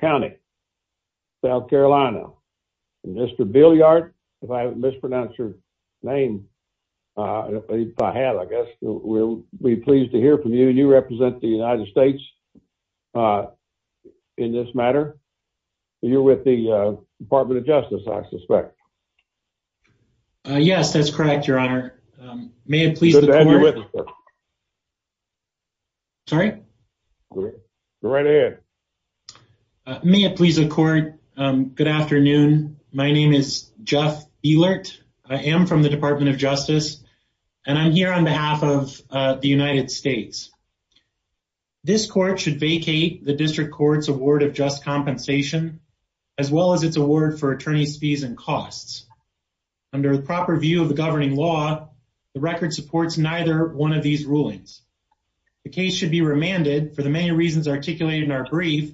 County, South Carolina. Mr. Bilyard, if I mispronounce your name, if I have, I guess we'll be pleased to hear from you. You represent the United States in this matter. You're with the Department of Justice, I suspect. Yes, that's correct, Your Honor. May it please the Court. Good to have you with us. Sorry? Go right ahead. May it please the Court, good afternoon. My name is Jeff Bilyard. I am from the Department of Justice, and I'm here on behalf of the United States. This Court should vacate the District Court's award of just compensation, as well as its award for attorney's fees and costs. Under the proper view of the governing law, the record supports neither one of these rulings. The case should be remanded for the many reasons articulated in our brief,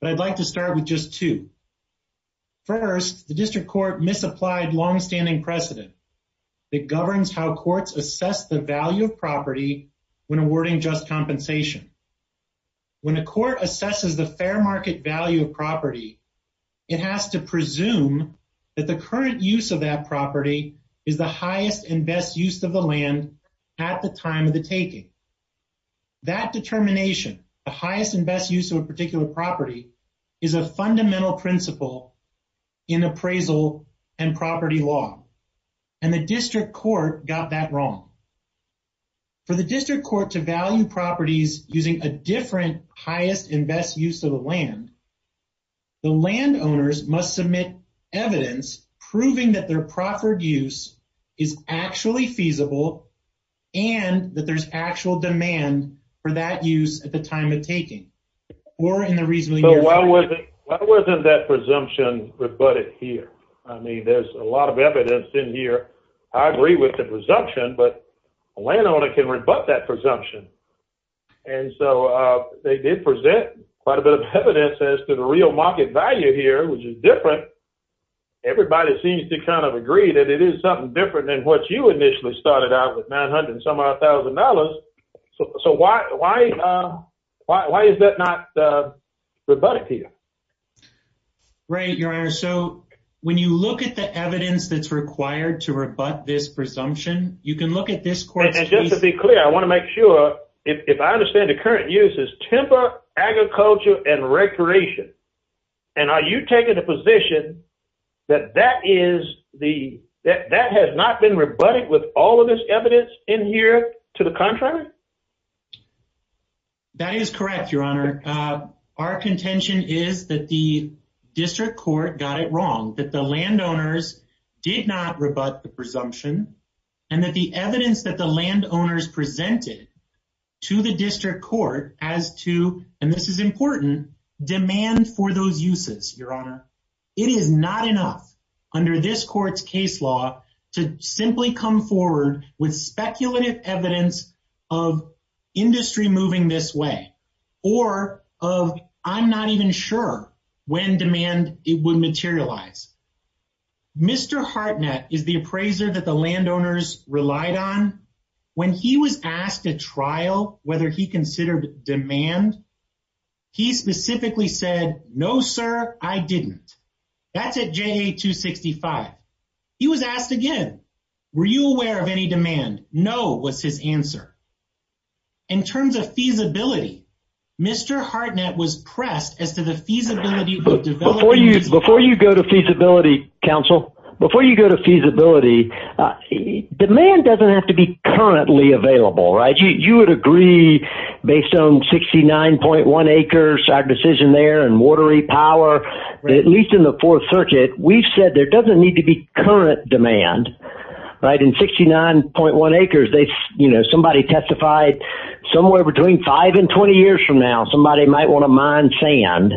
but I'd like to start with just two. First, the District Court misapplied longstanding precedent that governs how courts assess the value of property when awarding just compensation. When a court assesses the fair market value of property, it has to presume that the current use of that property is the highest and best use of the land at the time of the taking. That determination, the highest and best use of a particular property, is a fundamental principle in appraisal and property law, and the District Court got that wrong. For the District Court to value properties using a different highest and best use of the land, the landowners must submit evidence proving that their proffered use is actually feasible and that there's actual demand for that use at the time of taking. So why wasn't that presumption rebutted here? I mean, there's a lot of evidence in here. I agree with the presumption, but a landowner can rebut that presumption. And so they did present quite a bit of evidence as to the real market value here, which is different. Everybody seems to kind of agree that it is something different than what you initially started out with, $900 and some odd thousand dollars. So why is that not rebutted here? Right, Your Honor. So when you look at the evidence that's required to rebut this presumption, you can look at this court's case... ...that that has not been rebutted with all of this evidence in here? To the contrary? It is not enough under this court's case law to simply come forward with speculative evidence of industry moving this way, or of I'm not even sure when demand would materialize. Mr. Hartnett is the appraiser that the landowners relied on. When he was asked to trial whether he considered demand, he specifically said, no, sir, I didn't. That's at JA-265. He was asked again, were you aware of any demand? No was his answer. In terms of feasibility, Mr. Hartnett was pressed as to the feasibility of developing... Before you go to feasibility, counsel, before you go to feasibility, demand doesn't have to be currently available, right? You would agree based on 69.1 acres, our decision there, and watery power, at least in the Fourth Circuit, we've said there doesn't need to be current demand. In 69.1 acres, somebody testified somewhere between five and 20 years from now, somebody might want to mine sand.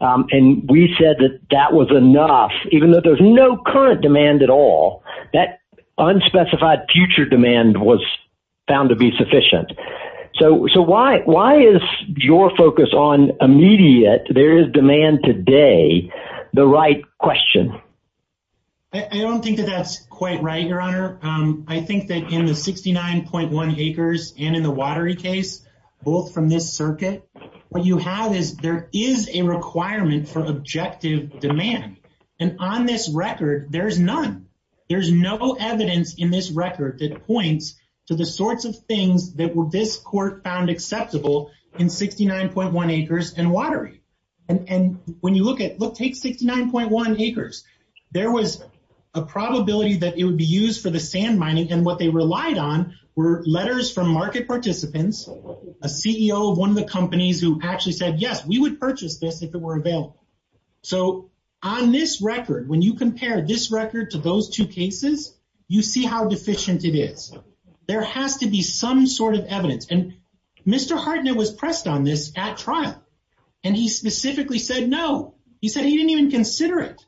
And we said that that was enough, even though there's no current demand at all. That unspecified future demand was found to be sufficient. So why is your focus on immediate, there is demand today, the right question? I don't think that that's quite right, Your Honor. I think that in the 69.1 acres and in the watery case, both from this circuit, what you have is there is a requirement for objective demand. And on this record, there's none. There's no evidence in this record that points to the sorts of things that this court found acceptable in 69.1 acres and watery. And when you look at, look, take 69.1 acres, there was a probability that it would be used for the sand mining. And what they relied on were letters from market participants, a CEO of one of the companies who actually said, yes, we would purchase this if it were available. So on this record, when you compare this record to those two cases, you see how deficient it is. There has to be some sort of evidence. And Mr. Hartnett was pressed on this at trial. And he specifically said no. He said he didn't even consider it.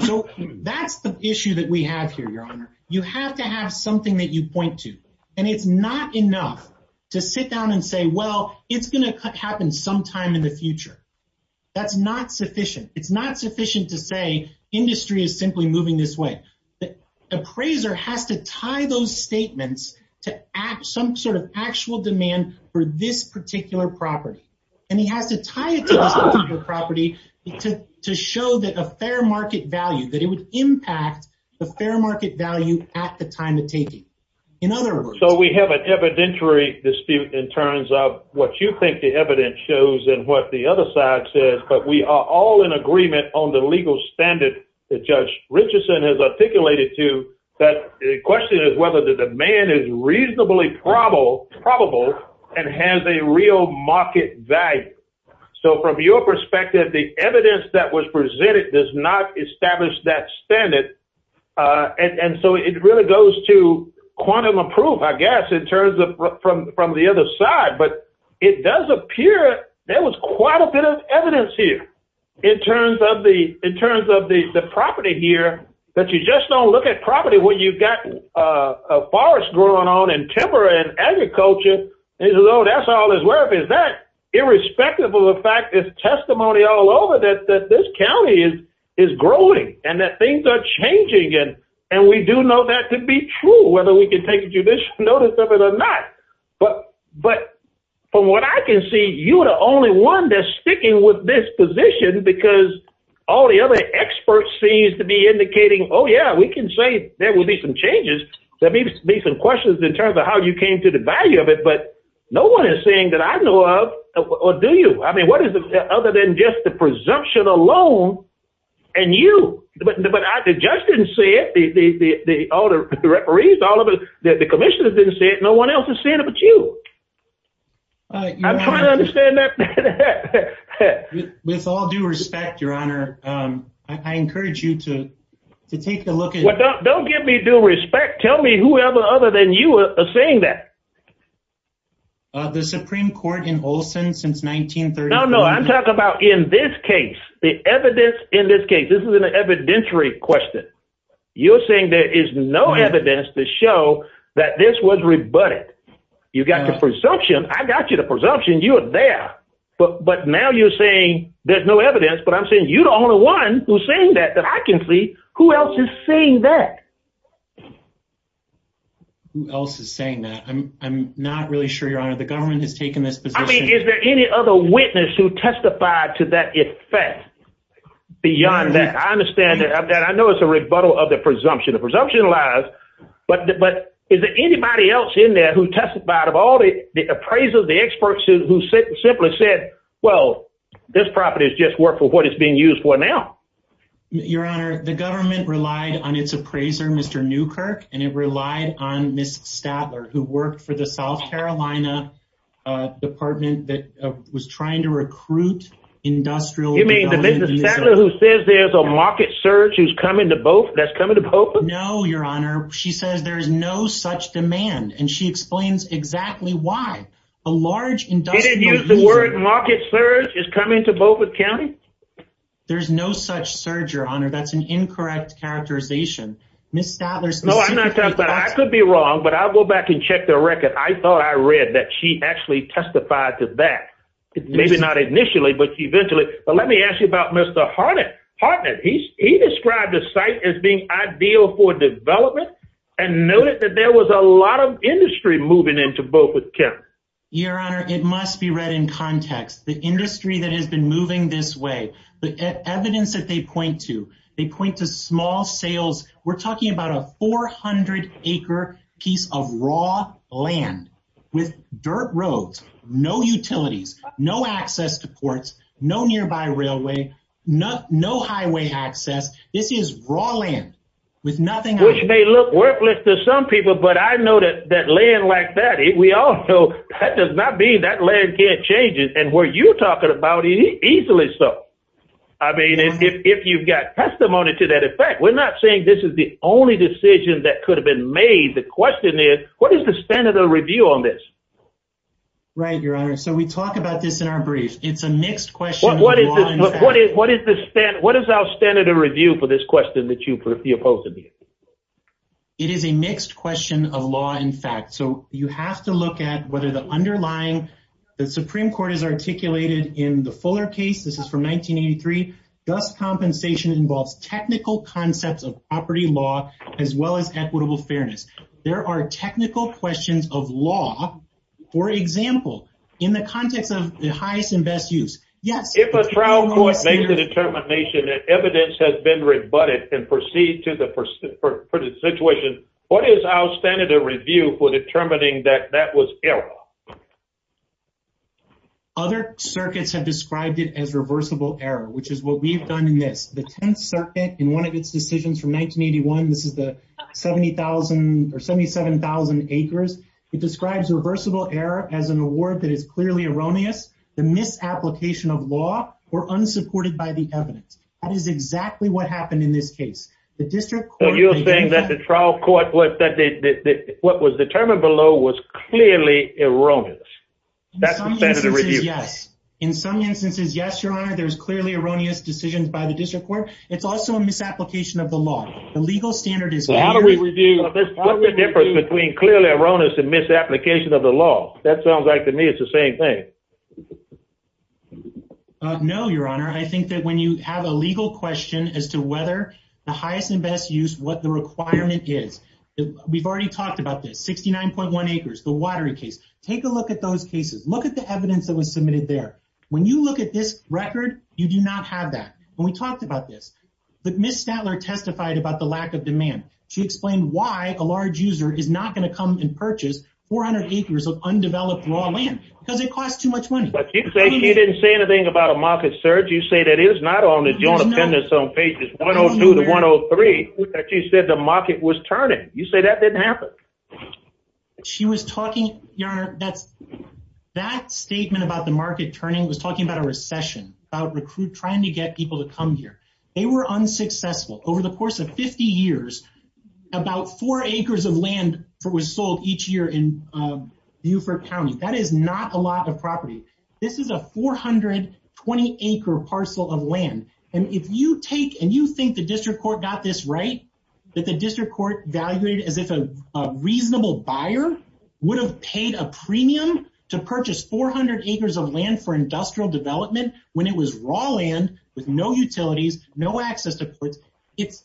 So that's the issue that we have here, Your Honor. You have to have something that you point to. And it's not enough to sit down and say, well, it's going to happen sometime in the future. That's not sufficient. It's not sufficient to say industry is simply moving this way. The appraiser has to tie those statements to some sort of actual demand for this particular property. And he has to tie it to this particular property to show that a fair market value, that it would impact the fair market value at the time of taking. In other words. So we have an evidentiary dispute in terms of what you think the evidence shows and what the other side says. But we are all in agreement on the legal standard that Judge Richardson has articulated to that question is whether the demand is reasonably probable and has a real market value. So from your perspective, the evidence that was presented does not establish that standard. And so it really goes to quantum of proof, I guess, in terms of from the other side. But it does appear there was quite a bit of evidence here in terms of the property here that you just don't look at property when you've got a forest growing on and timber and agriculture. And he says, oh, that's all it's worth. Is that irrespective of the fact that there's testimony all over that this county is growing and that things are changing? And we do know that to be true, whether we can take judicial notice of it or not. But from what I can see, you are the only one that's sticking with this position because all the other experts seems to be indicating, oh, yeah, we can say there will be some changes. There may be some questions in terms of how you came to the value of it. But no one is saying that I know of, or do you? I mean, what is it other than just the presumption alone and you? But the judge didn't say it. All the referees, all of the commissioners didn't say it. No one else is saying it but you. I'm trying to understand that. With all due respect, Your Honor, I encourage you to take a look at it. Don't give me due respect. Tell me whoever other than you are saying that. The Supreme Court in Olson since 1930. No, no, I'm talking about in this case, the evidence in this case, this is an evidentiary question. You're saying there is no evidence to show that this was rebutted. You got the presumption. I got you the presumption. You are there. But but now you're saying there's no evidence, but I'm saying you don't want to one who's saying that that I can see who else is saying that. Who else is saying that? I'm not really sure. Your Honor, the government has taken this position. Is there any other witness who testified to that effect beyond that? I understand that. I know it's a rebuttal of the presumption. The presumption lies. But but is there anybody else in there who testified of all the appraisals? The experts who simply said, well, this property is just work for what it's being used for now. Your Honor, the government relied on its appraiser, Mr. Newkirk. And it relied on Miss Stadler, who worked for the South Carolina Department that was trying to recruit industrial. I mean, the business who says there's a market surge is coming to both. That's coming to open. No, Your Honor. She says there is no such demand. And she explains exactly why a large industry. The word market surge is coming to both with county. There's no such surgery on her. That's an incorrect characterization. Miss Stadler's. No, I'm not. But I could be wrong. But I'll go back and check the record. I thought I read that she actually testified to that. Maybe not initially, but eventually. But let me ask you about Mr. Harden. Harden, he's he described the site as being ideal for development. And noted that there was a lot of industry moving into both with Kevin. Your Honor, it must be read in context. The industry that has been moving this way, the evidence that they point to, they point to small sales. We're talking about a 400 acre piece of raw land with dirt roads, no utilities, no access to ports, no nearby railway, no highway access. This is rolling with nothing. They look worthless to some people. But I know that that land like that, we all know that does not be that land can't change it. And were you talking about easily? So I mean, if you've got testimony to that effect, we're not saying this is the only decision that could have been made. The question is, what is the standard of review on this? Right, Your Honor. So we talk about this in our brief. It's a mixed question. What is this? What is what is this? What is our standard of review for this question that you propose to me? It is a mixed question of law, in fact. So you have to look at whether the underlying the Supreme Court has articulated in the Fuller case. This is from 1983. Thus, compensation involves technical concepts of property law as well as equitable fairness. There are technical questions of law, for example, in the context of the highest and best use. Yes. If a trial court makes the determination that evidence has been rebutted and proceed to the situation. What is our standard of review for determining that that was error? Other circuits have described it as reversible error, which is what we've done in this. The 10th Circuit in one of its decisions from 1981, this is the 70,000 or 77,000 acres. It describes reversible error as an award that is clearly erroneous, the misapplication of law or unsupported by the evidence. That is exactly what happened in this case. The district. You're saying that the trial court was that what was determined below was clearly erroneous. Yes. In some instances. Yes, Your Honor. There's clearly erroneous decisions by the district court. It's also a misapplication of the law. The legal standard is. How do we review the difference between clearly erroneous and misapplication of the law? That sounds like to me it's the same thing. No, Your Honor. I think that when you have a legal question as to whether the highest and best use what the requirement is. We've already talked about this. Sixty nine point one acres. The watery case. Take a look at those cases. Look at the evidence that was submitted there. When you look at this record, you do not have that. We talked about this, but Miss Statler testified about the lack of demand. She explained why a large user is not going to come and purchase 400 acres of undeveloped raw land because it costs too much money. But you say you didn't say anything about a market surge. You say that is not on the joint appendix. So pages one or two to one or three that you said the market was turning. You say that didn't happen. She was talking. Your Honor, that's that statement about the market turning was talking about a recession about recruit trying to get people to come here. They were unsuccessful over the course of 50 years. About four acres of land was sold each year in Buford County. That is not a lot of property. This is a four hundred twenty acre parcel of land. And if you take and you think the district court got this right, that the district court evaluated as if a reasonable buyer would have paid a premium to purchase 400 acres of land for industrial development when it was raw land with no utilities, no access to. It's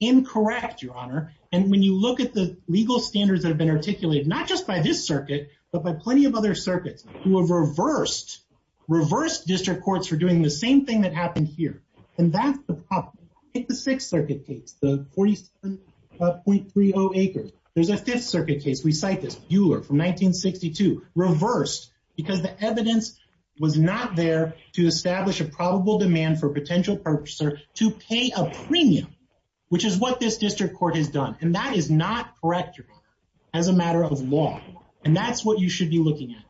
incorrect, Your Honor. And when you look at the legal standards that have been articulated, not just by this circuit, but by plenty of other circuits who have reversed, reversed district courts for doing the same thing that happened here. And that's the problem. Take the Sixth Circuit case, the 47.30 acres. There's a Fifth Circuit case. We cite this Euler from 1962 reversed because the evidence was not there to establish a probable demand for potential purchaser to pay a premium, which is what this district court has done. And that is not correct as a matter of law. And that's what you should be looking at.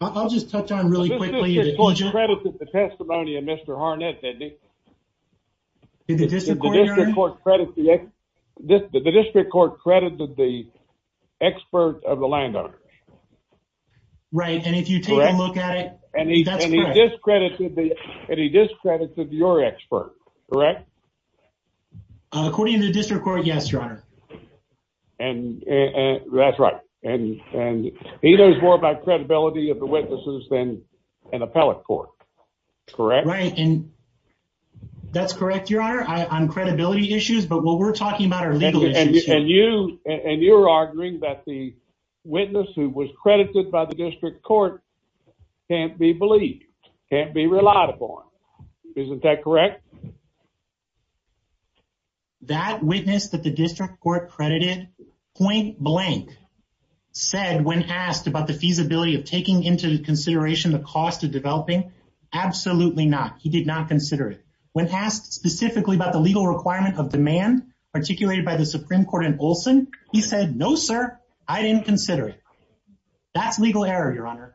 I'll just touch on really quickly. The testimony of Mr. Harnett, the district court credited the expert of the landowner. Right. And if you take a look at it, that's correct. And he discredited your expert, correct? According to the district court, yes, Your Honor. And that's right. And he knows more about credibility of the witnesses than an appellate court, correct? Right. And that's correct, Your Honor, on credibility issues. But what we're talking about are legal issues. And you and you're arguing that the witness who was credited by the district court can't be believed, can't be relied upon. Isn't that correct? That witness that the district court credited point blank said when asked about the feasibility of taking into consideration the cost of developing. Absolutely not. He did not consider it when asked specifically about the legal requirement of demand articulated by the Supreme Court in Olson. He said, no, sir, I didn't consider it. That's legal error, Your Honor.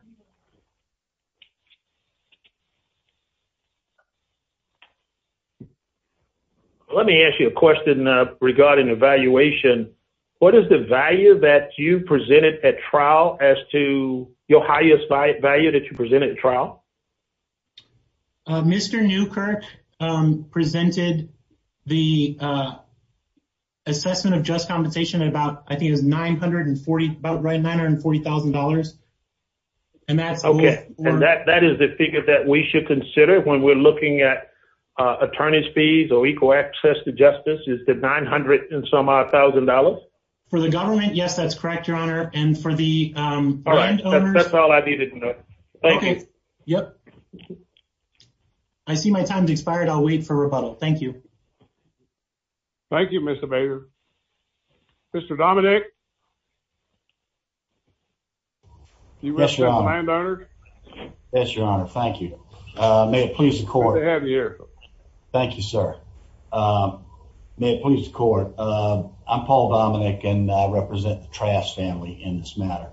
Let me ask you a question regarding evaluation. What is the value that you presented at trial as to your highest value that you presented trial? Mr. Newkirk presented the assessment of just compensation about I think is nine hundred and forty nine hundred and forty thousand dollars. And that's OK. And that that is the figure that we should consider when we're looking at attorney's fees or equal access to justice. Is that nine hundred and some thousand dollars for the government? Yes, that's correct, Your Honor. And for the. All right. That's all I needed. Yep. I see my time expired. I'll wait for rebuttal. Thank you. Thank you, Mr. Bader. Mr. Dominic. Yes, Your Honor. Yes, Your Honor. Thank you. May it please the court. Thank you, sir. May it please the court. I'm Paul Dominic and I represent the Trask family in this matter.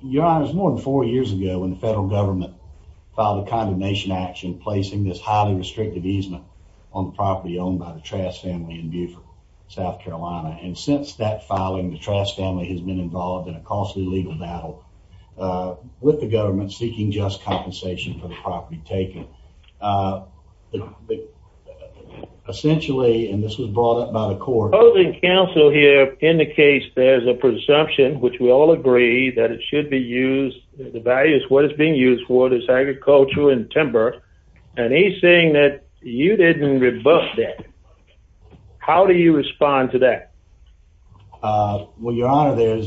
Your honor is more than four years ago when the federal government filed a condemnation action, placing this highly restrictive easement on property owned by the Trask family in Buford, South Carolina. And since that filing, the Trask family has been involved in a costly legal battle with the government seeking just compensation for the property taken. But essentially, and this was brought up by the court holding council here indicates there's a presumption which we all agree that it should be used. The value is what is being used for this agriculture and timber. And he's saying that you didn't rebut that. How do you respond to that? Well, Your Honor, there's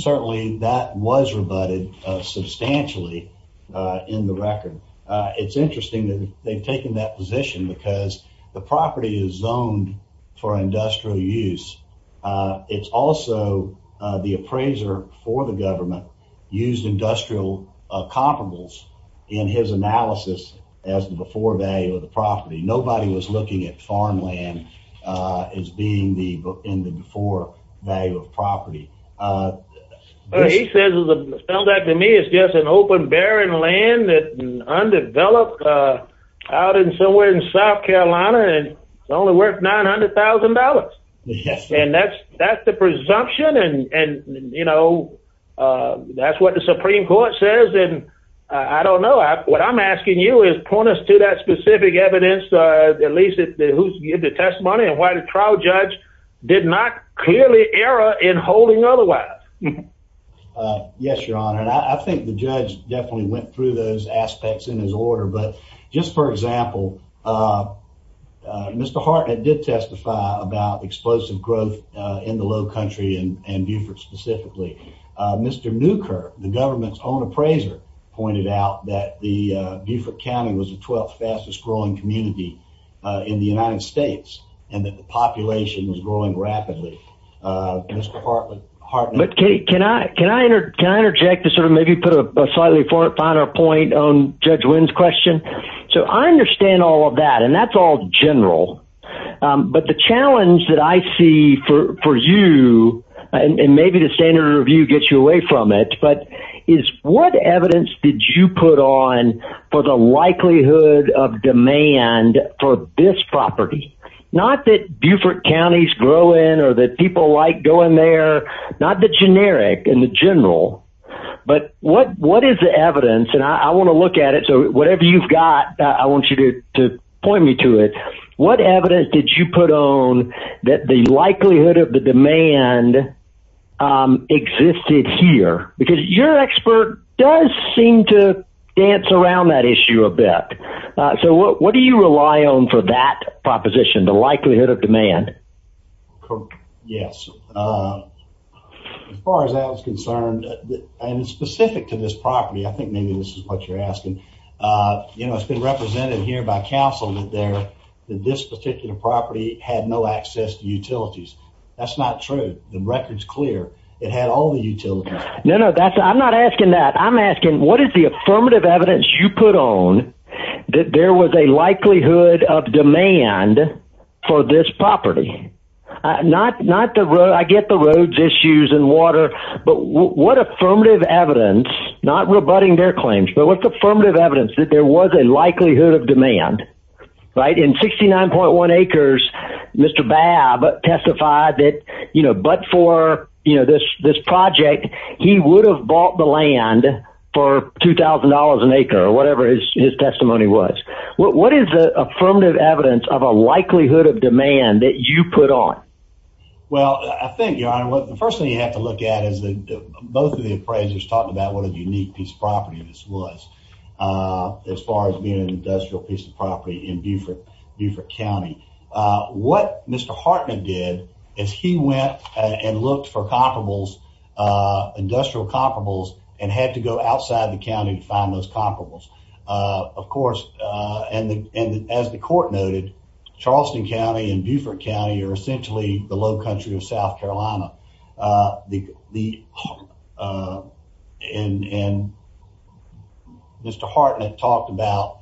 certainly that was rebutted substantially in the record. It's interesting that they've taken that position because the property is zoned for industrial use. It's also the appraiser for the government used industrial comparables in his analysis as the before value of the property. Nobody was looking at farmland as being the before value of property. He says to me, it's just an open, barren land that undeveloped out in somewhere in South Carolina and only worth $900,000. And that's that's the presumption. And, you know, that's what the Supreme Court says. And I don't know what I'm asking you is point us to that specific evidence. At least who's give the testimony and why the trial judge did not clearly error in holding otherwise. Yes, Your Honor. And I think the judge definitely went through those aspects in his order. But just for example, Mr. Hartnett did testify about explosive growth in the low country and Buford specifically. Mr. Newker, the government's own appraiser, pointed out that the Buford County was the 12th fastest growing community in the United States and that the population was growing rapidly. Mr. Hartnett. But can I interject to sort of maybe put a slightly finer point on Judge Wynn's question? So I understand all of that and that's all general. But the challenge that I see for you and maybe the standard review gets you away from it. But is what evidence did you put on for the likelihood of demand for this property? Not that Buford County's growing or that people like going there, not the generic and the general. But what what is the evidence? And I want to look at it. So whatever you've got, I want you to point me to it. What evidence did you put on that the likelihood of the demand existed here? Because your expert does seem to dance around that issue a bit. So what do you rely on for that proposition? The likelihood of demand? Yes. As far as I was concerned and specific to this property, I think maybe this is what you're asking. You know, it's been represented here by council that there that this particular property had no access to utilities. That's not true. The record's clear. It had all the utilities. No, no, that's I'm not asking that. I'm asking what is the affirmative evidence you put on that? There was a likelihood of demand for this property. Not not the road. I get the roads, issues and water. But what affirmative evidence, not rebutting their claims, but with affirmative evidence that there was a likelihood of demand. Right. In sixty nine point one acres. Mr. Babb testified that, you know, but for this this project, he would have bought the land for two thousand dollars an acre or whatever his testimony was. What is the affirmative evidence of a likelihood of demand that you put on? Well, I think the first thing you have to look at is that both of the appraisers talked about what a unique piece of property this was as far as being an industrial piece of property in Buford, Buford County. What Mr. Hartman did is he went and looked for comparable industrial comparable and had to go outside the county to find those comparable. Of course, and as the court noted, Charleston County and Buford County are essentially the low country of South Carolina. The the and Mr. Hartman talked about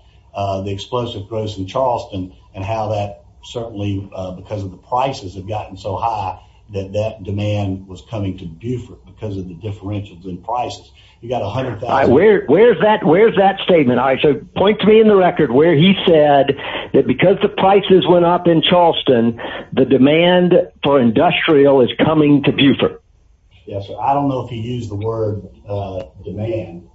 the explosive growth in Charleston and how that certainly because of the prices have gotten so high that that demand was coming to Buford because of the differentials in prices. You got a hundred. Where is that? Where is that statement? I should point to me in the record where he said that because the prices went up in Charleston, the demand for industrial is coming to Buford. Yes. I don't know if he used the word demand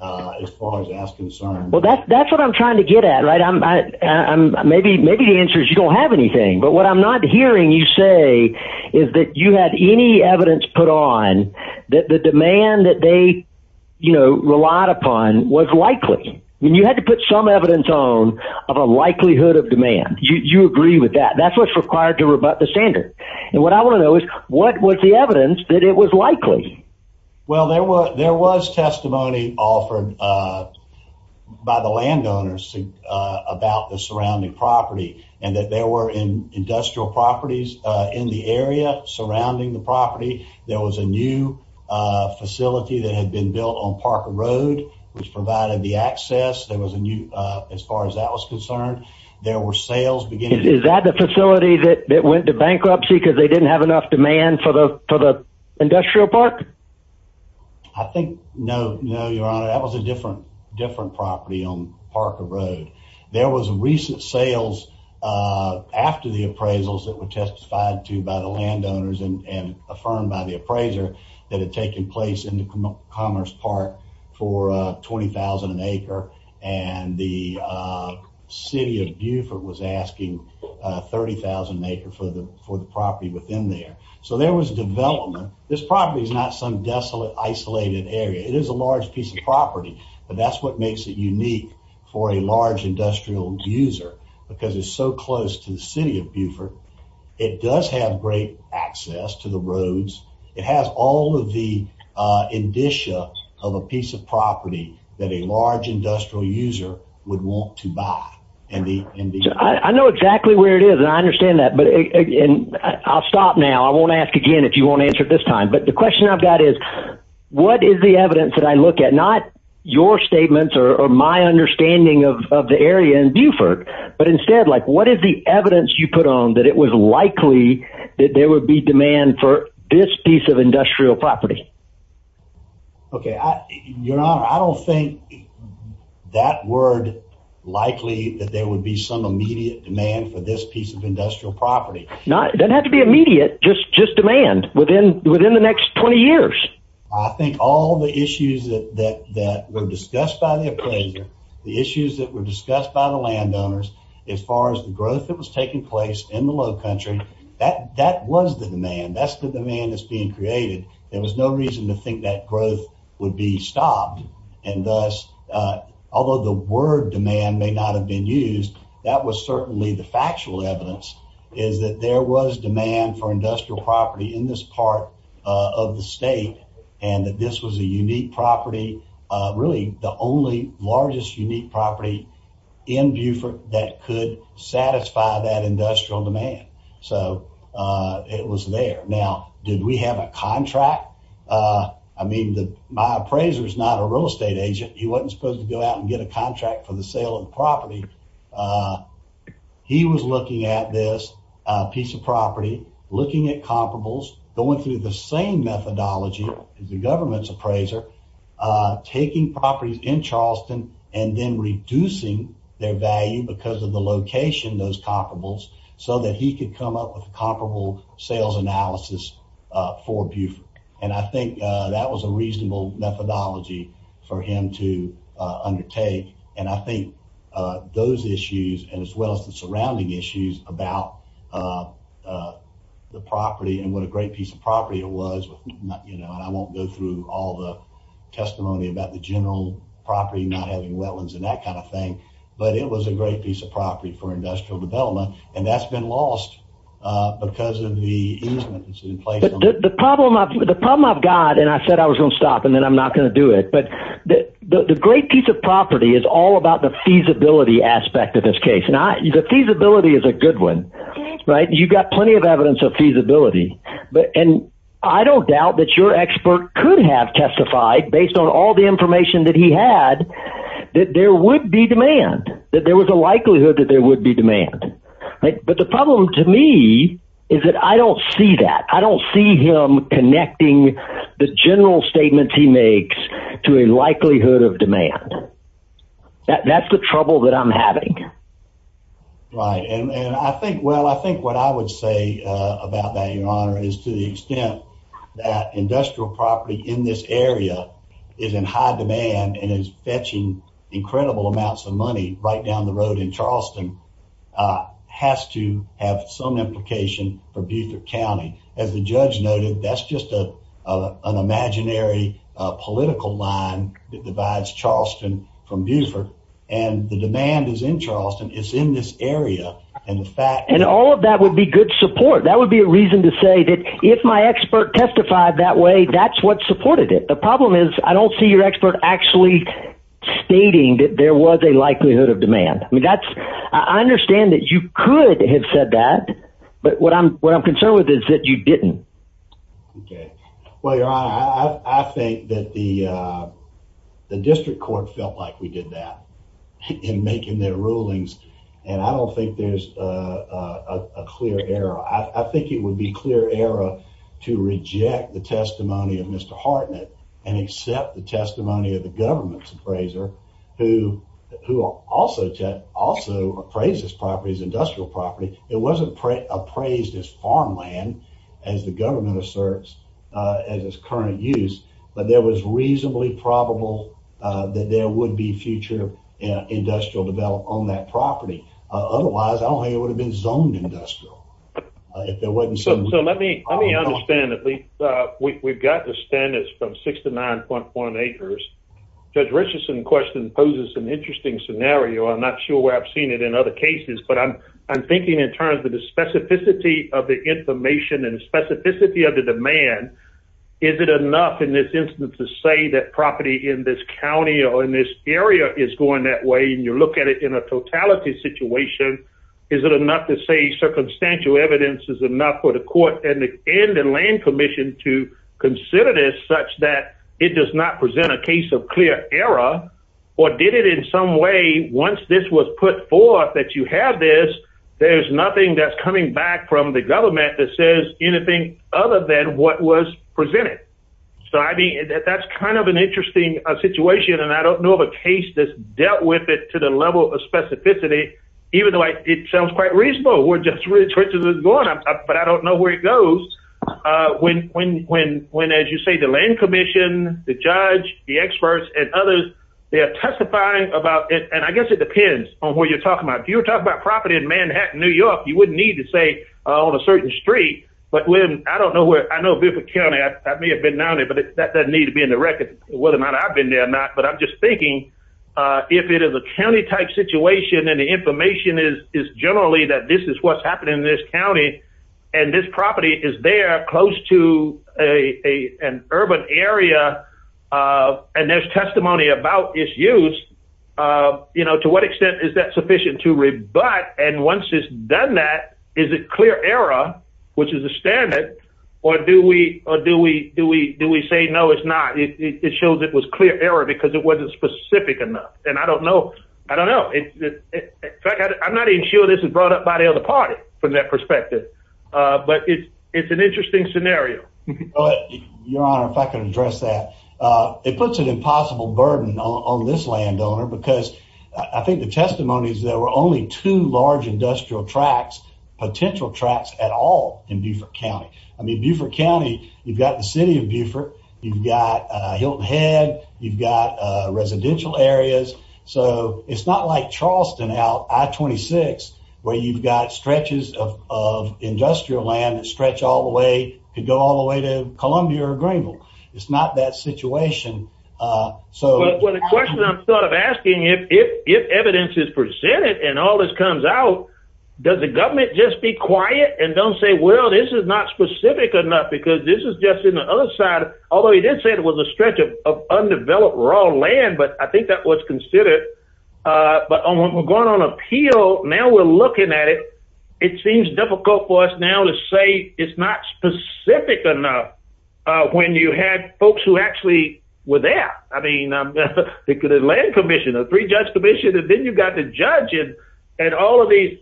as far as that's concerned. Well, that's that's what I'm trying to get at. Right. I'm I'm maybe maybe the answer is you don't have anything. But what I'm not hearing you say is that you had any evidence put on that the demand that they, you know, relied upon was likely when you had to put some evidence on of a likelihood of demand. You agree with that? That's what's required to rebut the standard. And what I want to know is what was the evidence that it was likely? Well, there were there was testimony offered by the landowners about the surrounding property and that there were in industrial properties in the area surrounding the property. There was a new facility that had been built on Parker Road, which provided the access. There was a new as far as that was concerned. There were sales beginning. Is that the facility that went to bankruptcy because they didn't have enough demand for the for the industrial park? I think no, no, your honor. That was a different, different property on Parker Road. There was a recent sales after the appraisals that were testified to by the landowners and affirmed by the appraiser that had taken place in the Commerce Park for twenty thousand an acre. And the city of Buford was asking thirty thousand acre for the for the property within there. So there was development. This property is not some desolate, isolated area. It is a large piece of property, but that's what makes it unique for a large industrial user because it's so close to the city of Buford. It does have great access to the roads. It has all of the indicia of a piece of property that a large industrial user would want to buy. I know exactly where it is and I understand that. But I'll stop now. I won't ask again if you won't answer this time. But the question I've got is, what is the evidence that I look at? Not your statements or my understanding of the area in Buford, but instead, like, what is the evidence you put on that? It was likely that there would be demand for this piece of industrial property. OK, your honor, I don't think that word likely that there would be some immediate demand for this piece of industrial property. Not that had to be immediate. Just just demand within within the next 20 years. I think all the issues that were discussed by the appraiser, the issues that were discussed by the landowners as far as the growth that was taking place in the low country, that that was the demand. That's the demand that's being created. There was no reason to think that growth would be stopped. And thus, although the word demand may not have been used, that was certainly the factual evidence is that there was demand for industrial property in this part of the state. And that this was a unique property, really the only largest unique property in Buford that could satisfy that industrial demand. So it was there. Now, did we have a contract? I mean, my appraiser is not a real estate agent. He wasn't supposed to go out and get a contract for the sale of property. He was looking at this piece of property, looking at comparables, going through the same methodology as the government's appraiser, taking properties in Charleston and then reducing their value because of the location, those comparable so that he could come up with a comparable sales analysis for Buford. And I think that was a reasonable methodology for him to undertake. And I think those issues and as well as the surrounding issues about the property and what a great piece of property it was. And I won't go through all the testimony about the general property, not having wetlands and that kind of thing. But it was a great piece of property for industrial development. And that's been lost because of the. The problem of the problem I've got and I said I was going to stop and then I'm not going to do it. But the great piece of property is all about the feasibility aspect of this case. Now, the feasibility is a good one. Right. You've got plenty of evidence of feasibility. But and I don't doubt that your expert could have testified based on all the information that he had, that there would be demand, that there was a likelihood that there would be demand. But the problem to me is that I don't see that. I don't see him connecting the general statements he makes to a likelihood of demand. That's the trouble that I'm having. Right. And I think. Well, I think what I would say about that, your honor, is to the extent that industrial property in this area is in high demand and is fetching incredible amounts of money right down the road in Charleston. Has to have some implication for Buford County, as the judge noted, that's just an imaginary political line that divides Charleston from Buford. And the demand is in Charleston. It's in this area. And the fact and all of that would be good support. That would be a reason to say that if my expert testified that way, that's what supported it. The problem is, I don't see your expert actually stating that there was a likelihood of demand. I mean, that's I understand that you could have said that. But what I'm what I'm concerned with is that you didn't. OK, well, your honor, I think that the the district court felt like we did that in making their rulings. And I don't think there's a clear error. I think it would be clear error to reject the testimony of Mr. Hartnett and accept the testimony of the government's appraiser, who who also also appraises properties, industrial property. It wasn't appraised as farmland, as the government asserts as its current use. But there was reasonably probable that there would be future industrial development on that property. Otherwise, I don't think it would have been zoned industrial if there wasn't some. So let me let me understand that we we've got the standards from six to nine point one acres. Judge Richardson question poses an interesting scenario. I'm not sure where I've seen it in other cases. But I'm I'm thinking in terms of the specificity of the information and specificity of the demand. Is it enough in this instance to say that property in this county or in this area is going that way? And you look at it in a totality situation. Is it enough to say circumstantial evidence is enough for the court and the land commission to consider this such that it does not present a case of clear error? Or did it in some way once this was put forth that you have this? There's nothing that's coming back from the government that says anything other than what was presented. So I mean, that's kind of an interesting situation. And I don't know of a case that's dealt with it to the level of specificity, even though it sounds quite reasonable. But I don't know where it goes. When, when, when, when, as you say, the land commission, the judge, the experts and others, they are testifying about it. And I guess it depends on where you're talking about. You're talking about property in Manhattan, New York. You wouldn't need to say on a certain street. But when I don't know where I know. But that doesn't need to be in the record, whether or not I've been there or not. But I'm just thinking if it is a county type situation and the information is is generally that this is what's happening in this county. And this property is there close to a an urban area. And there's testimony about issues. You know, to what extent is that sufficient to read? But and once it's done, that is a clear error, which is a standard. Or do we or do we do we do we say, no, it's not. It shows it was clear error because it wasn't specific enough. And I don't know. I don't know. In fact, I'm not even sure this is brought up by the other party from that perspective. But it's an interesting scenario. Your Honor, if I can address that, it puts an impossible burden on this landowner, because I think the testimony is there were only two large industrial tracks, potential tracks at all in Buford County. I mean, Buford County, you've got the city of Buford. You've got Hilton Head. You've got residential areas. So it's not like Charleston out at 26 where you've got stretches of industrial land and stretch all the way to go all the way to Columbia or Greenville. It's not that situation. So, well, the question I'm sort of asking if if if evidence is presented and all this comes out, does the government just be quiet and don't say, well, this is not specific enough? Because this is just in the other side, although he did say it was a stretch of undeveloped raw land. But I think that was considered. But we're going on appeal. Now we're looking at it. It seems difficult for us now to say it's not specific enough when you had folks who actually were there. I mean, the land commission, the three judge commission, and then you've got the judge and all of these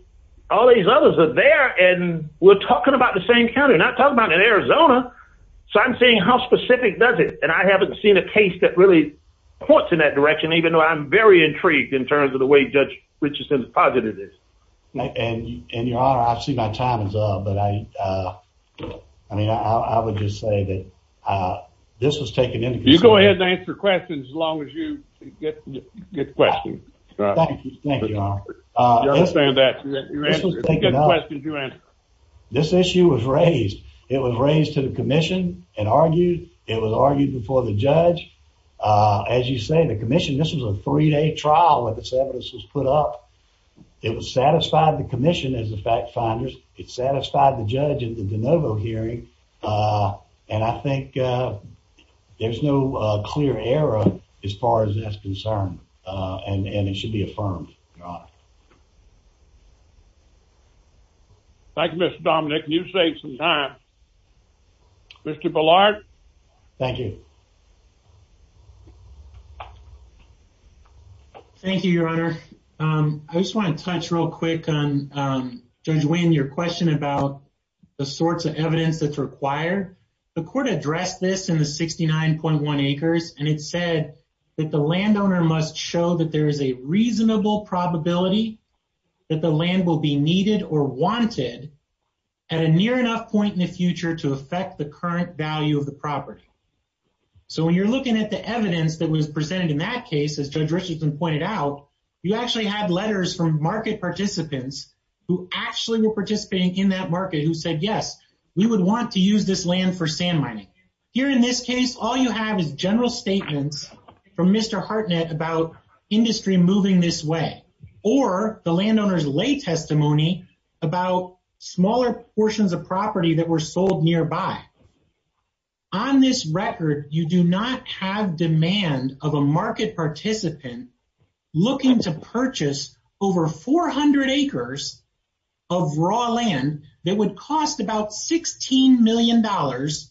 all these others are there. And we're talking about the same county, not talking about in Arizona. So I'm saying how specific does it? And I haven't seen a case that really points in that direction, even though I'm very intrigued in terms of the way Judge Richardson has posited this. And your honor, I see my time is up, but I mean, I would just say that this was taken into consideration. You go ahead and answer questions as long as you get good questions. Thank you. I understand that. This issue was raised. It was raised to the commission and argued. It was argued before the judge. As you say, the commission, this was a three day trial where this evidence was put up. It was satisfied the commission as a fact finders. It satisfied the judge at the DeNovo hearing. And I think there's no clear error as far as that's concerned. And it should be affirmed. Thank you, Mr. Dominic. You say some time, Mr. Ballard. Thank you. Thank you, your honor. I just want to touch real quick on Judge Wayne. Your question about the sorts of evidence that's required. The court addressed this in the sixty nine point one acres. And it said that the landowner must show that there is a reasonable probability that the land will be needed or wanted at a near enough point in the future to affect the current value of the property. So when you're looking at the evidence that was presented in that case, as Judge Richardson pointed out, you actually had letters from market participants who actually were participating in that market who said, yes, we would want to use this land for sand mining here. In this case, all you have is general statements from Mr. Hartnett about industry moving this way or the landowner's lay testimony about smaller portions of property that were sold nearby. On this record, you do not have demand of a market participant looking to purchase over four hundred acres of raw land that would cost about sixteen million dollars.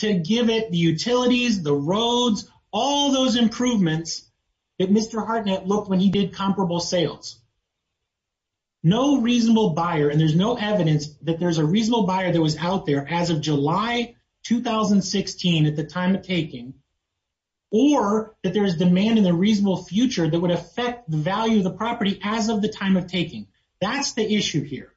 To give it the utilities, the roads, all those improvements that Mr. Hartnett looked when he did comparable sales. No reasonable buyer and there's no evidence that there's a reasonable buyer that was out there as of July 2016 at the time of taking or that there is demand in the reasonable future that would affect the value of the property as of the time of taking. That's the issue here.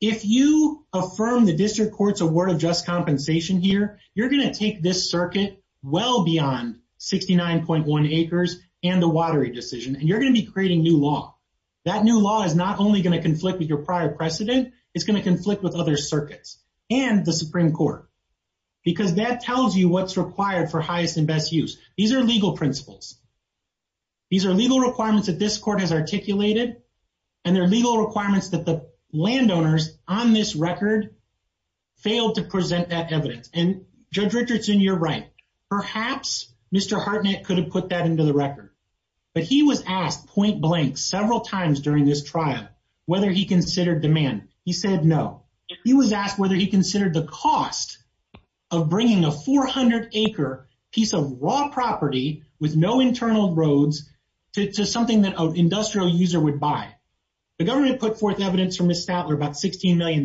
If you affirm the district court's award of just compensation here, you're going to take this circuit well beyond 69.1 acres and the watery decision and you're going to be creating new law. That new law is not only going to conflict with your prior precedent, it's going to conflict with other circuits and the Supreme Court. Because that tells you what's required for highest and best use. These are legal principles. These are legal requirements that this court has articulated and they're legal requirements that the landowners on this record failed to present that evidence. And Judge Richardson, you're right. Perhaps Mr. Hartnett could have put that into the record, but he was asked point blank several times during this trial whether he considered demand. He said no. He was asked whether he considered the cost of bringing a 400-acre piece of raw property with no internal roads to something that an industrial user would buy. The government put forth evidence from Ms. Statler about $16 million.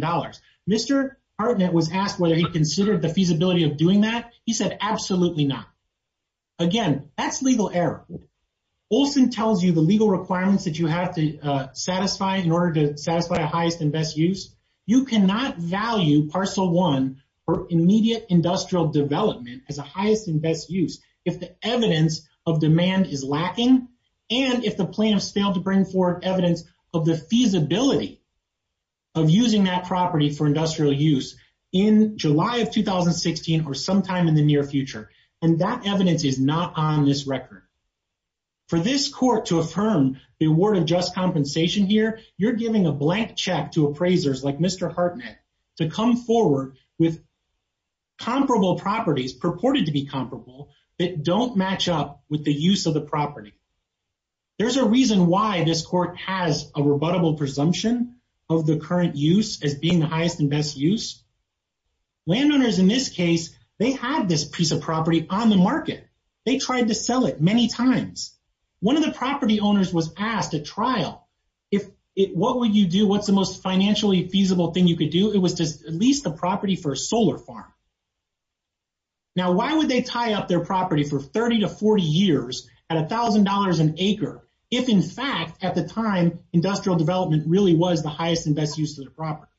Mr. Hartnett was asked whether he considered the feasibility of doing that. He said absolutely not. Again, that's legal error. Olson tells you the legal requirements that you have to satisfy in order to satisfy a highest and best use. You cannot value Parcel 1 for immediate industrial development as a highest and best use if the evidence of demand is lacking and if the plaintiffs failed to bring forward evidence of the feasibility of using that property for industrial use in July of 2016 or sometime in the near future. And that evidence is not on this record. For this court to affirm the award of just compensation here, you're giving a blank check to appraisers like Mr. Hartnett to come forward with comparable properties purported to be comparable that don't match up with the use of the property. There's a reason why this court has a rebuttable presumption of the current use as being the highest and best use. Landowners in this case, they had this piece of property on the market. They tried to sell it many times. One of the property owners was asked at trial, what's the most financially feasible thing you could do? It was to lease the property for a solar farm. Now, why would they tie up their property for 30 to 40 years at $1,000 an acre if, in fact, at the time, industrial development really was the highest and best use of the property?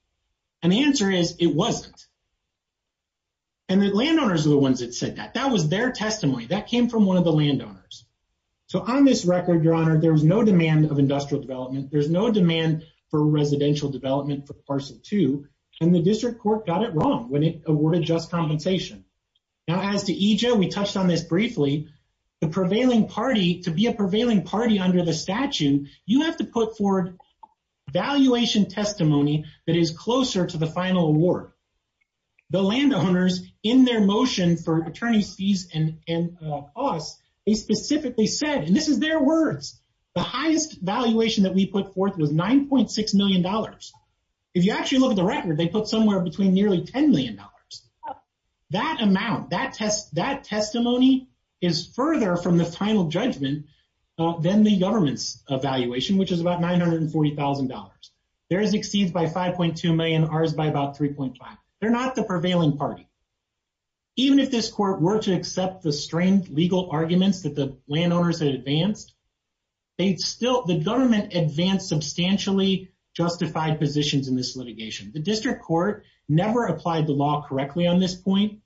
And the answer is it wasn't. And the landowners are the ones that said that. That was their testimony. That came from one of the landowners. So on this record, Your Honor, there was no demand of industrial development. There's no demand for residential development for parcel two. And the district court got it wrong when it awarded just compensation. Now, as to EJ, we touched on this briefly. The prevailing party, to be a prevailing party under the statute, you have to put forward valuation testimony that is closer to the final award. The landowners, in their motion for attorney's fees and costs, they specifically said, and this is their words, the highest valuation that we put forth was $9.6 million. If you actually look at the record, they put somewhere between nearly $10 million. That amount, that testimony is further from the final judgment than the government's evaluation, which is about $940,000. Theirs exceeds by $5.2 million, ours by about $3.5 million. They're not the prevailing party. Even if this court were to accept the strange legal arguments that the landowners had advanced, the government advanced substantially justified positions in this litigation. The district court never applied the law correctly on this point,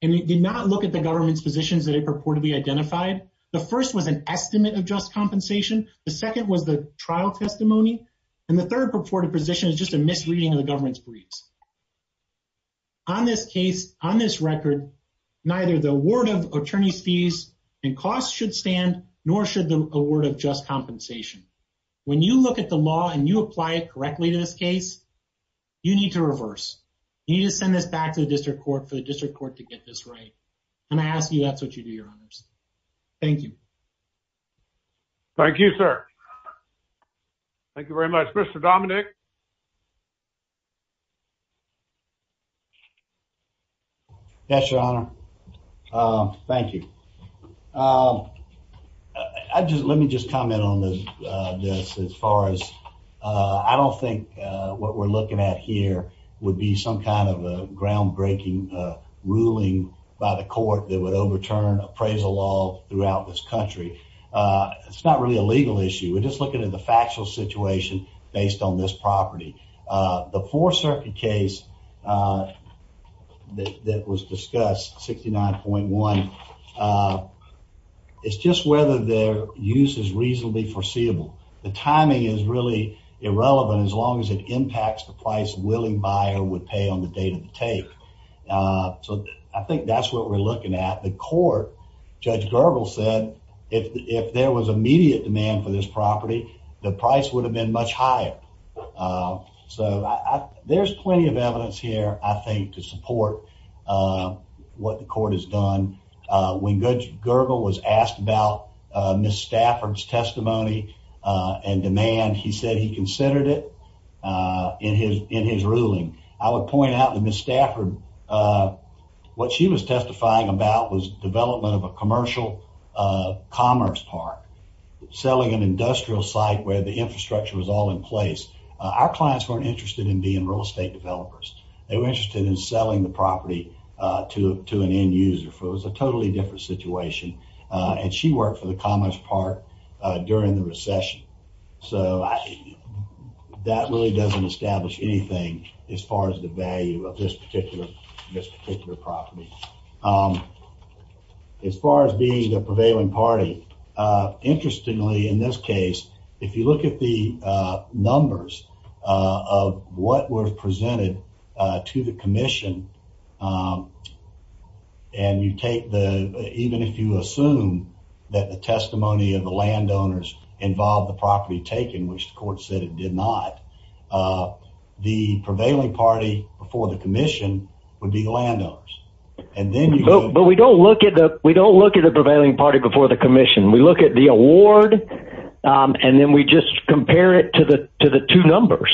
and it did not look at the government's positions that it purportedly identified. The first was an estimate of just compensation. The second was the trial testimony. And the third purported position is just a misreading of the government's briefs. On this case, on this record, neither the award of attorney's fees and costs should stand, nor should the award of just compensation. When you look at the law and you apply it correctly to this case, you need to reverse. You need to send this back to the district court for the district court to get this right. And I ask you, that's what you do, Your Honors. Thank you. Thank you, sir. Thank you very much. Mr. Dominic. Yes, Your Honor. Thank you. I just let me just comment on this as far as I don't think what we're looking at here would be some kind of a groundbreaking ruling by the court that would overturn appraisal law throughout this country. It's not really a legal issue. We're just looking at the factual situation based on this property. The Fourth Circuit case that was discussed, 69.1, it's just whether their use is reasonably foreseeable. The timing is really irrelevant as long as it impacts the price a willing buyer would pay on the date of the take. So I think that's what we're looking at. The court, Judge Gergel said, if there was immediate demand for this property, the price would have been much higher. So there's plenty of evidence here, I think, to support what the court has done. When Judge Gergel was asked about Ms. Stafford's testimony and demand, he said he considered it in his ruling. I would point out that Ms. Stafford, what she was testifying about was development of a commercial commerce park, selling an industrial site where the infrastructure was all in place. Our clients weren't interested in being real estate developers. They were interested in selling the property to an end user. So it was a totally different situation. And she worked for the commerce park during the recession. So that really doesn't establish anything as far as the value of this particular property. As far as being the prevailing party, interestingly in this case, if you look at the numbers of what was presented to the commission, and you take the, even if you assume that the testimony of the landowners involved the property taken, which the court said it did not, the prevailing party before the commission would be the landowners. But we don't look at the prevailing party before the commission. We look at the award, and then we just compare it to the two numbers.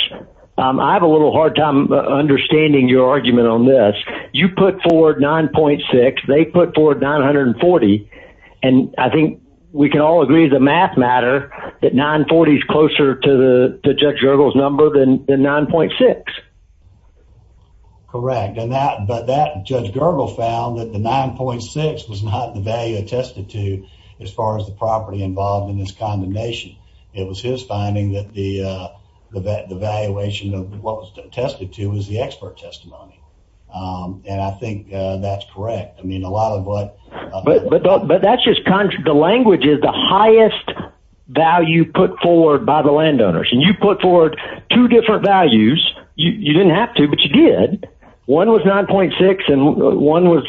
I have a little hard time understanding your argument on this. You put forward 9.6. They put forward 940. And I think we can all agree as a math matter that 940 is closer to Judge Gergel's number than 9.6. Correct. But Judge Gergel found that the 9.6 was not the value attested to as far as the property involved in this condemnation. It was his finding that the valuation of what was attested to was the expert testimony. And I think that's correct. But the language is the highest value put forward by the landowners. And you put forward two different values. You didn't have to, but you did. One was 9.6, and one was,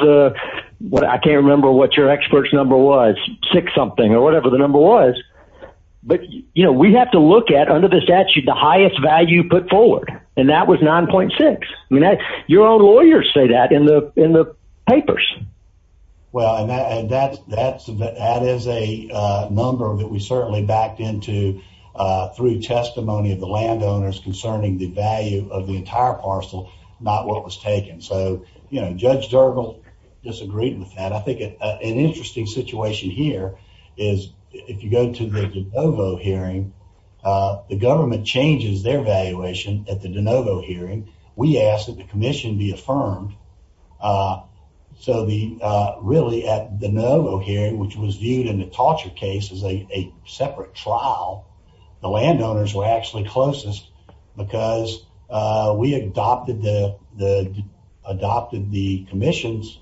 I can't remember what your expert's number was, six something or whatever the number was. But we have to look at, under the statute, the highest value put forward. And that was 9.6. Your own lawyers say that in the papers. Well, and that is a number that we certainly backed into through testimony of the landowners concerning the value of the entire parcel, not what was taken. So, you know, Judge Gergel disagreed with that. I think an interesting situation here is if you go to the DeNovo hearing, the government changes their valuation at the DeNovo hearing. We ask that the commission be affirmed. We, really, at the DeNovo hearing, which was viewed in the torture case as a separate trial, the landowners were actually closest because we adopted the commission's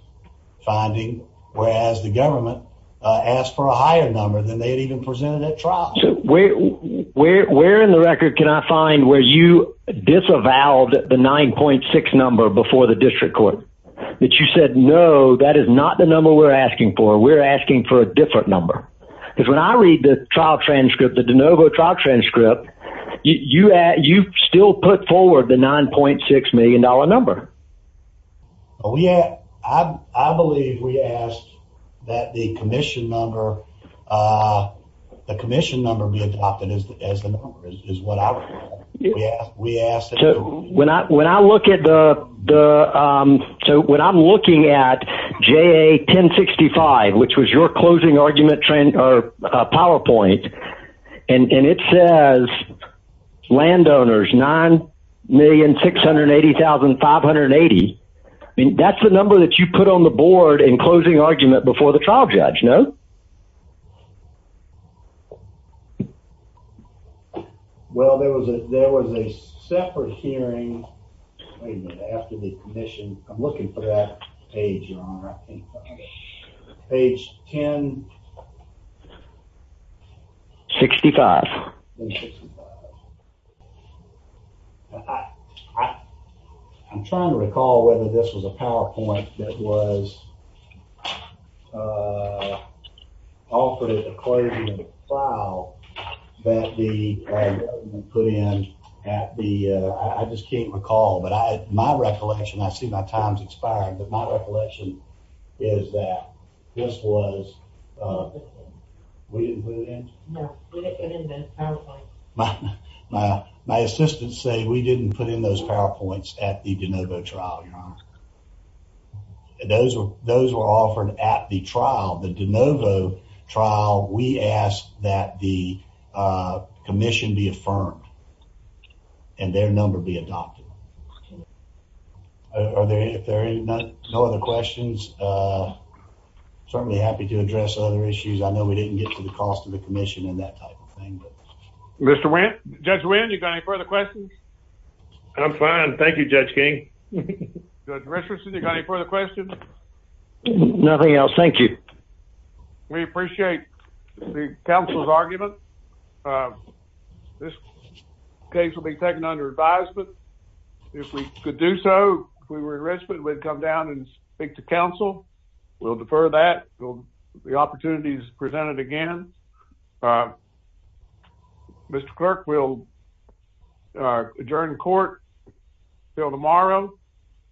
finding, whereas the government asked for a higher number than they had even presented at trial. So where in the record can I find where you disavowed the 9.6 number before the district court? That you said, no, that is not the number we're asking for. We're asking for a different number. Because when I read the trial transcript, the DeNovo trial transcript, you still put forward the $9.6 million number. I believe we asked that the commission number be adopted as the number is what we asked. So when I'm looking at JA 1065, which was your closing argument PowerPoint, and it says landowners, $9,680,580, that's the number that you put on the board in closing argument before the trial judge, no? Well, there was a separate hearing after the commission. I'm looking for that page, your honor. Page 1065. Page 1065. I'm trying to recall whether this was a PowerPoint that was offered at the closing of the trial that the government put in at the, I just can't recall, but my recollection, I see my time's expiring, but my recollection is that this was, we didn't put it in? No, we didn't put it in the PowerPoint. My assistants say we didn't put in those PowerPoints at the DeNovo trial, your honor. Those were offered at the trial, the DeNovo trial, we asked that the commission be affirmed and their number be adopted. Are there, if there are no other questions, certainly happy to address other issues. I know we didn't get to the cost of the commission and that type of thing. Mr. Wynn, Judge Wynn, you got any further questions? I'm fine, thank you, Judge King. Judge Richardson, you got any further questions? Nothing else, thank you. We appreciate the council's argument. This case will be taken under advisement. If we could do so, if we were enrichment, we'd come down and speak to council. We'll defer that. The opportunity is presented again. Mr. Clerk, we'll adjourn court until tomorrow.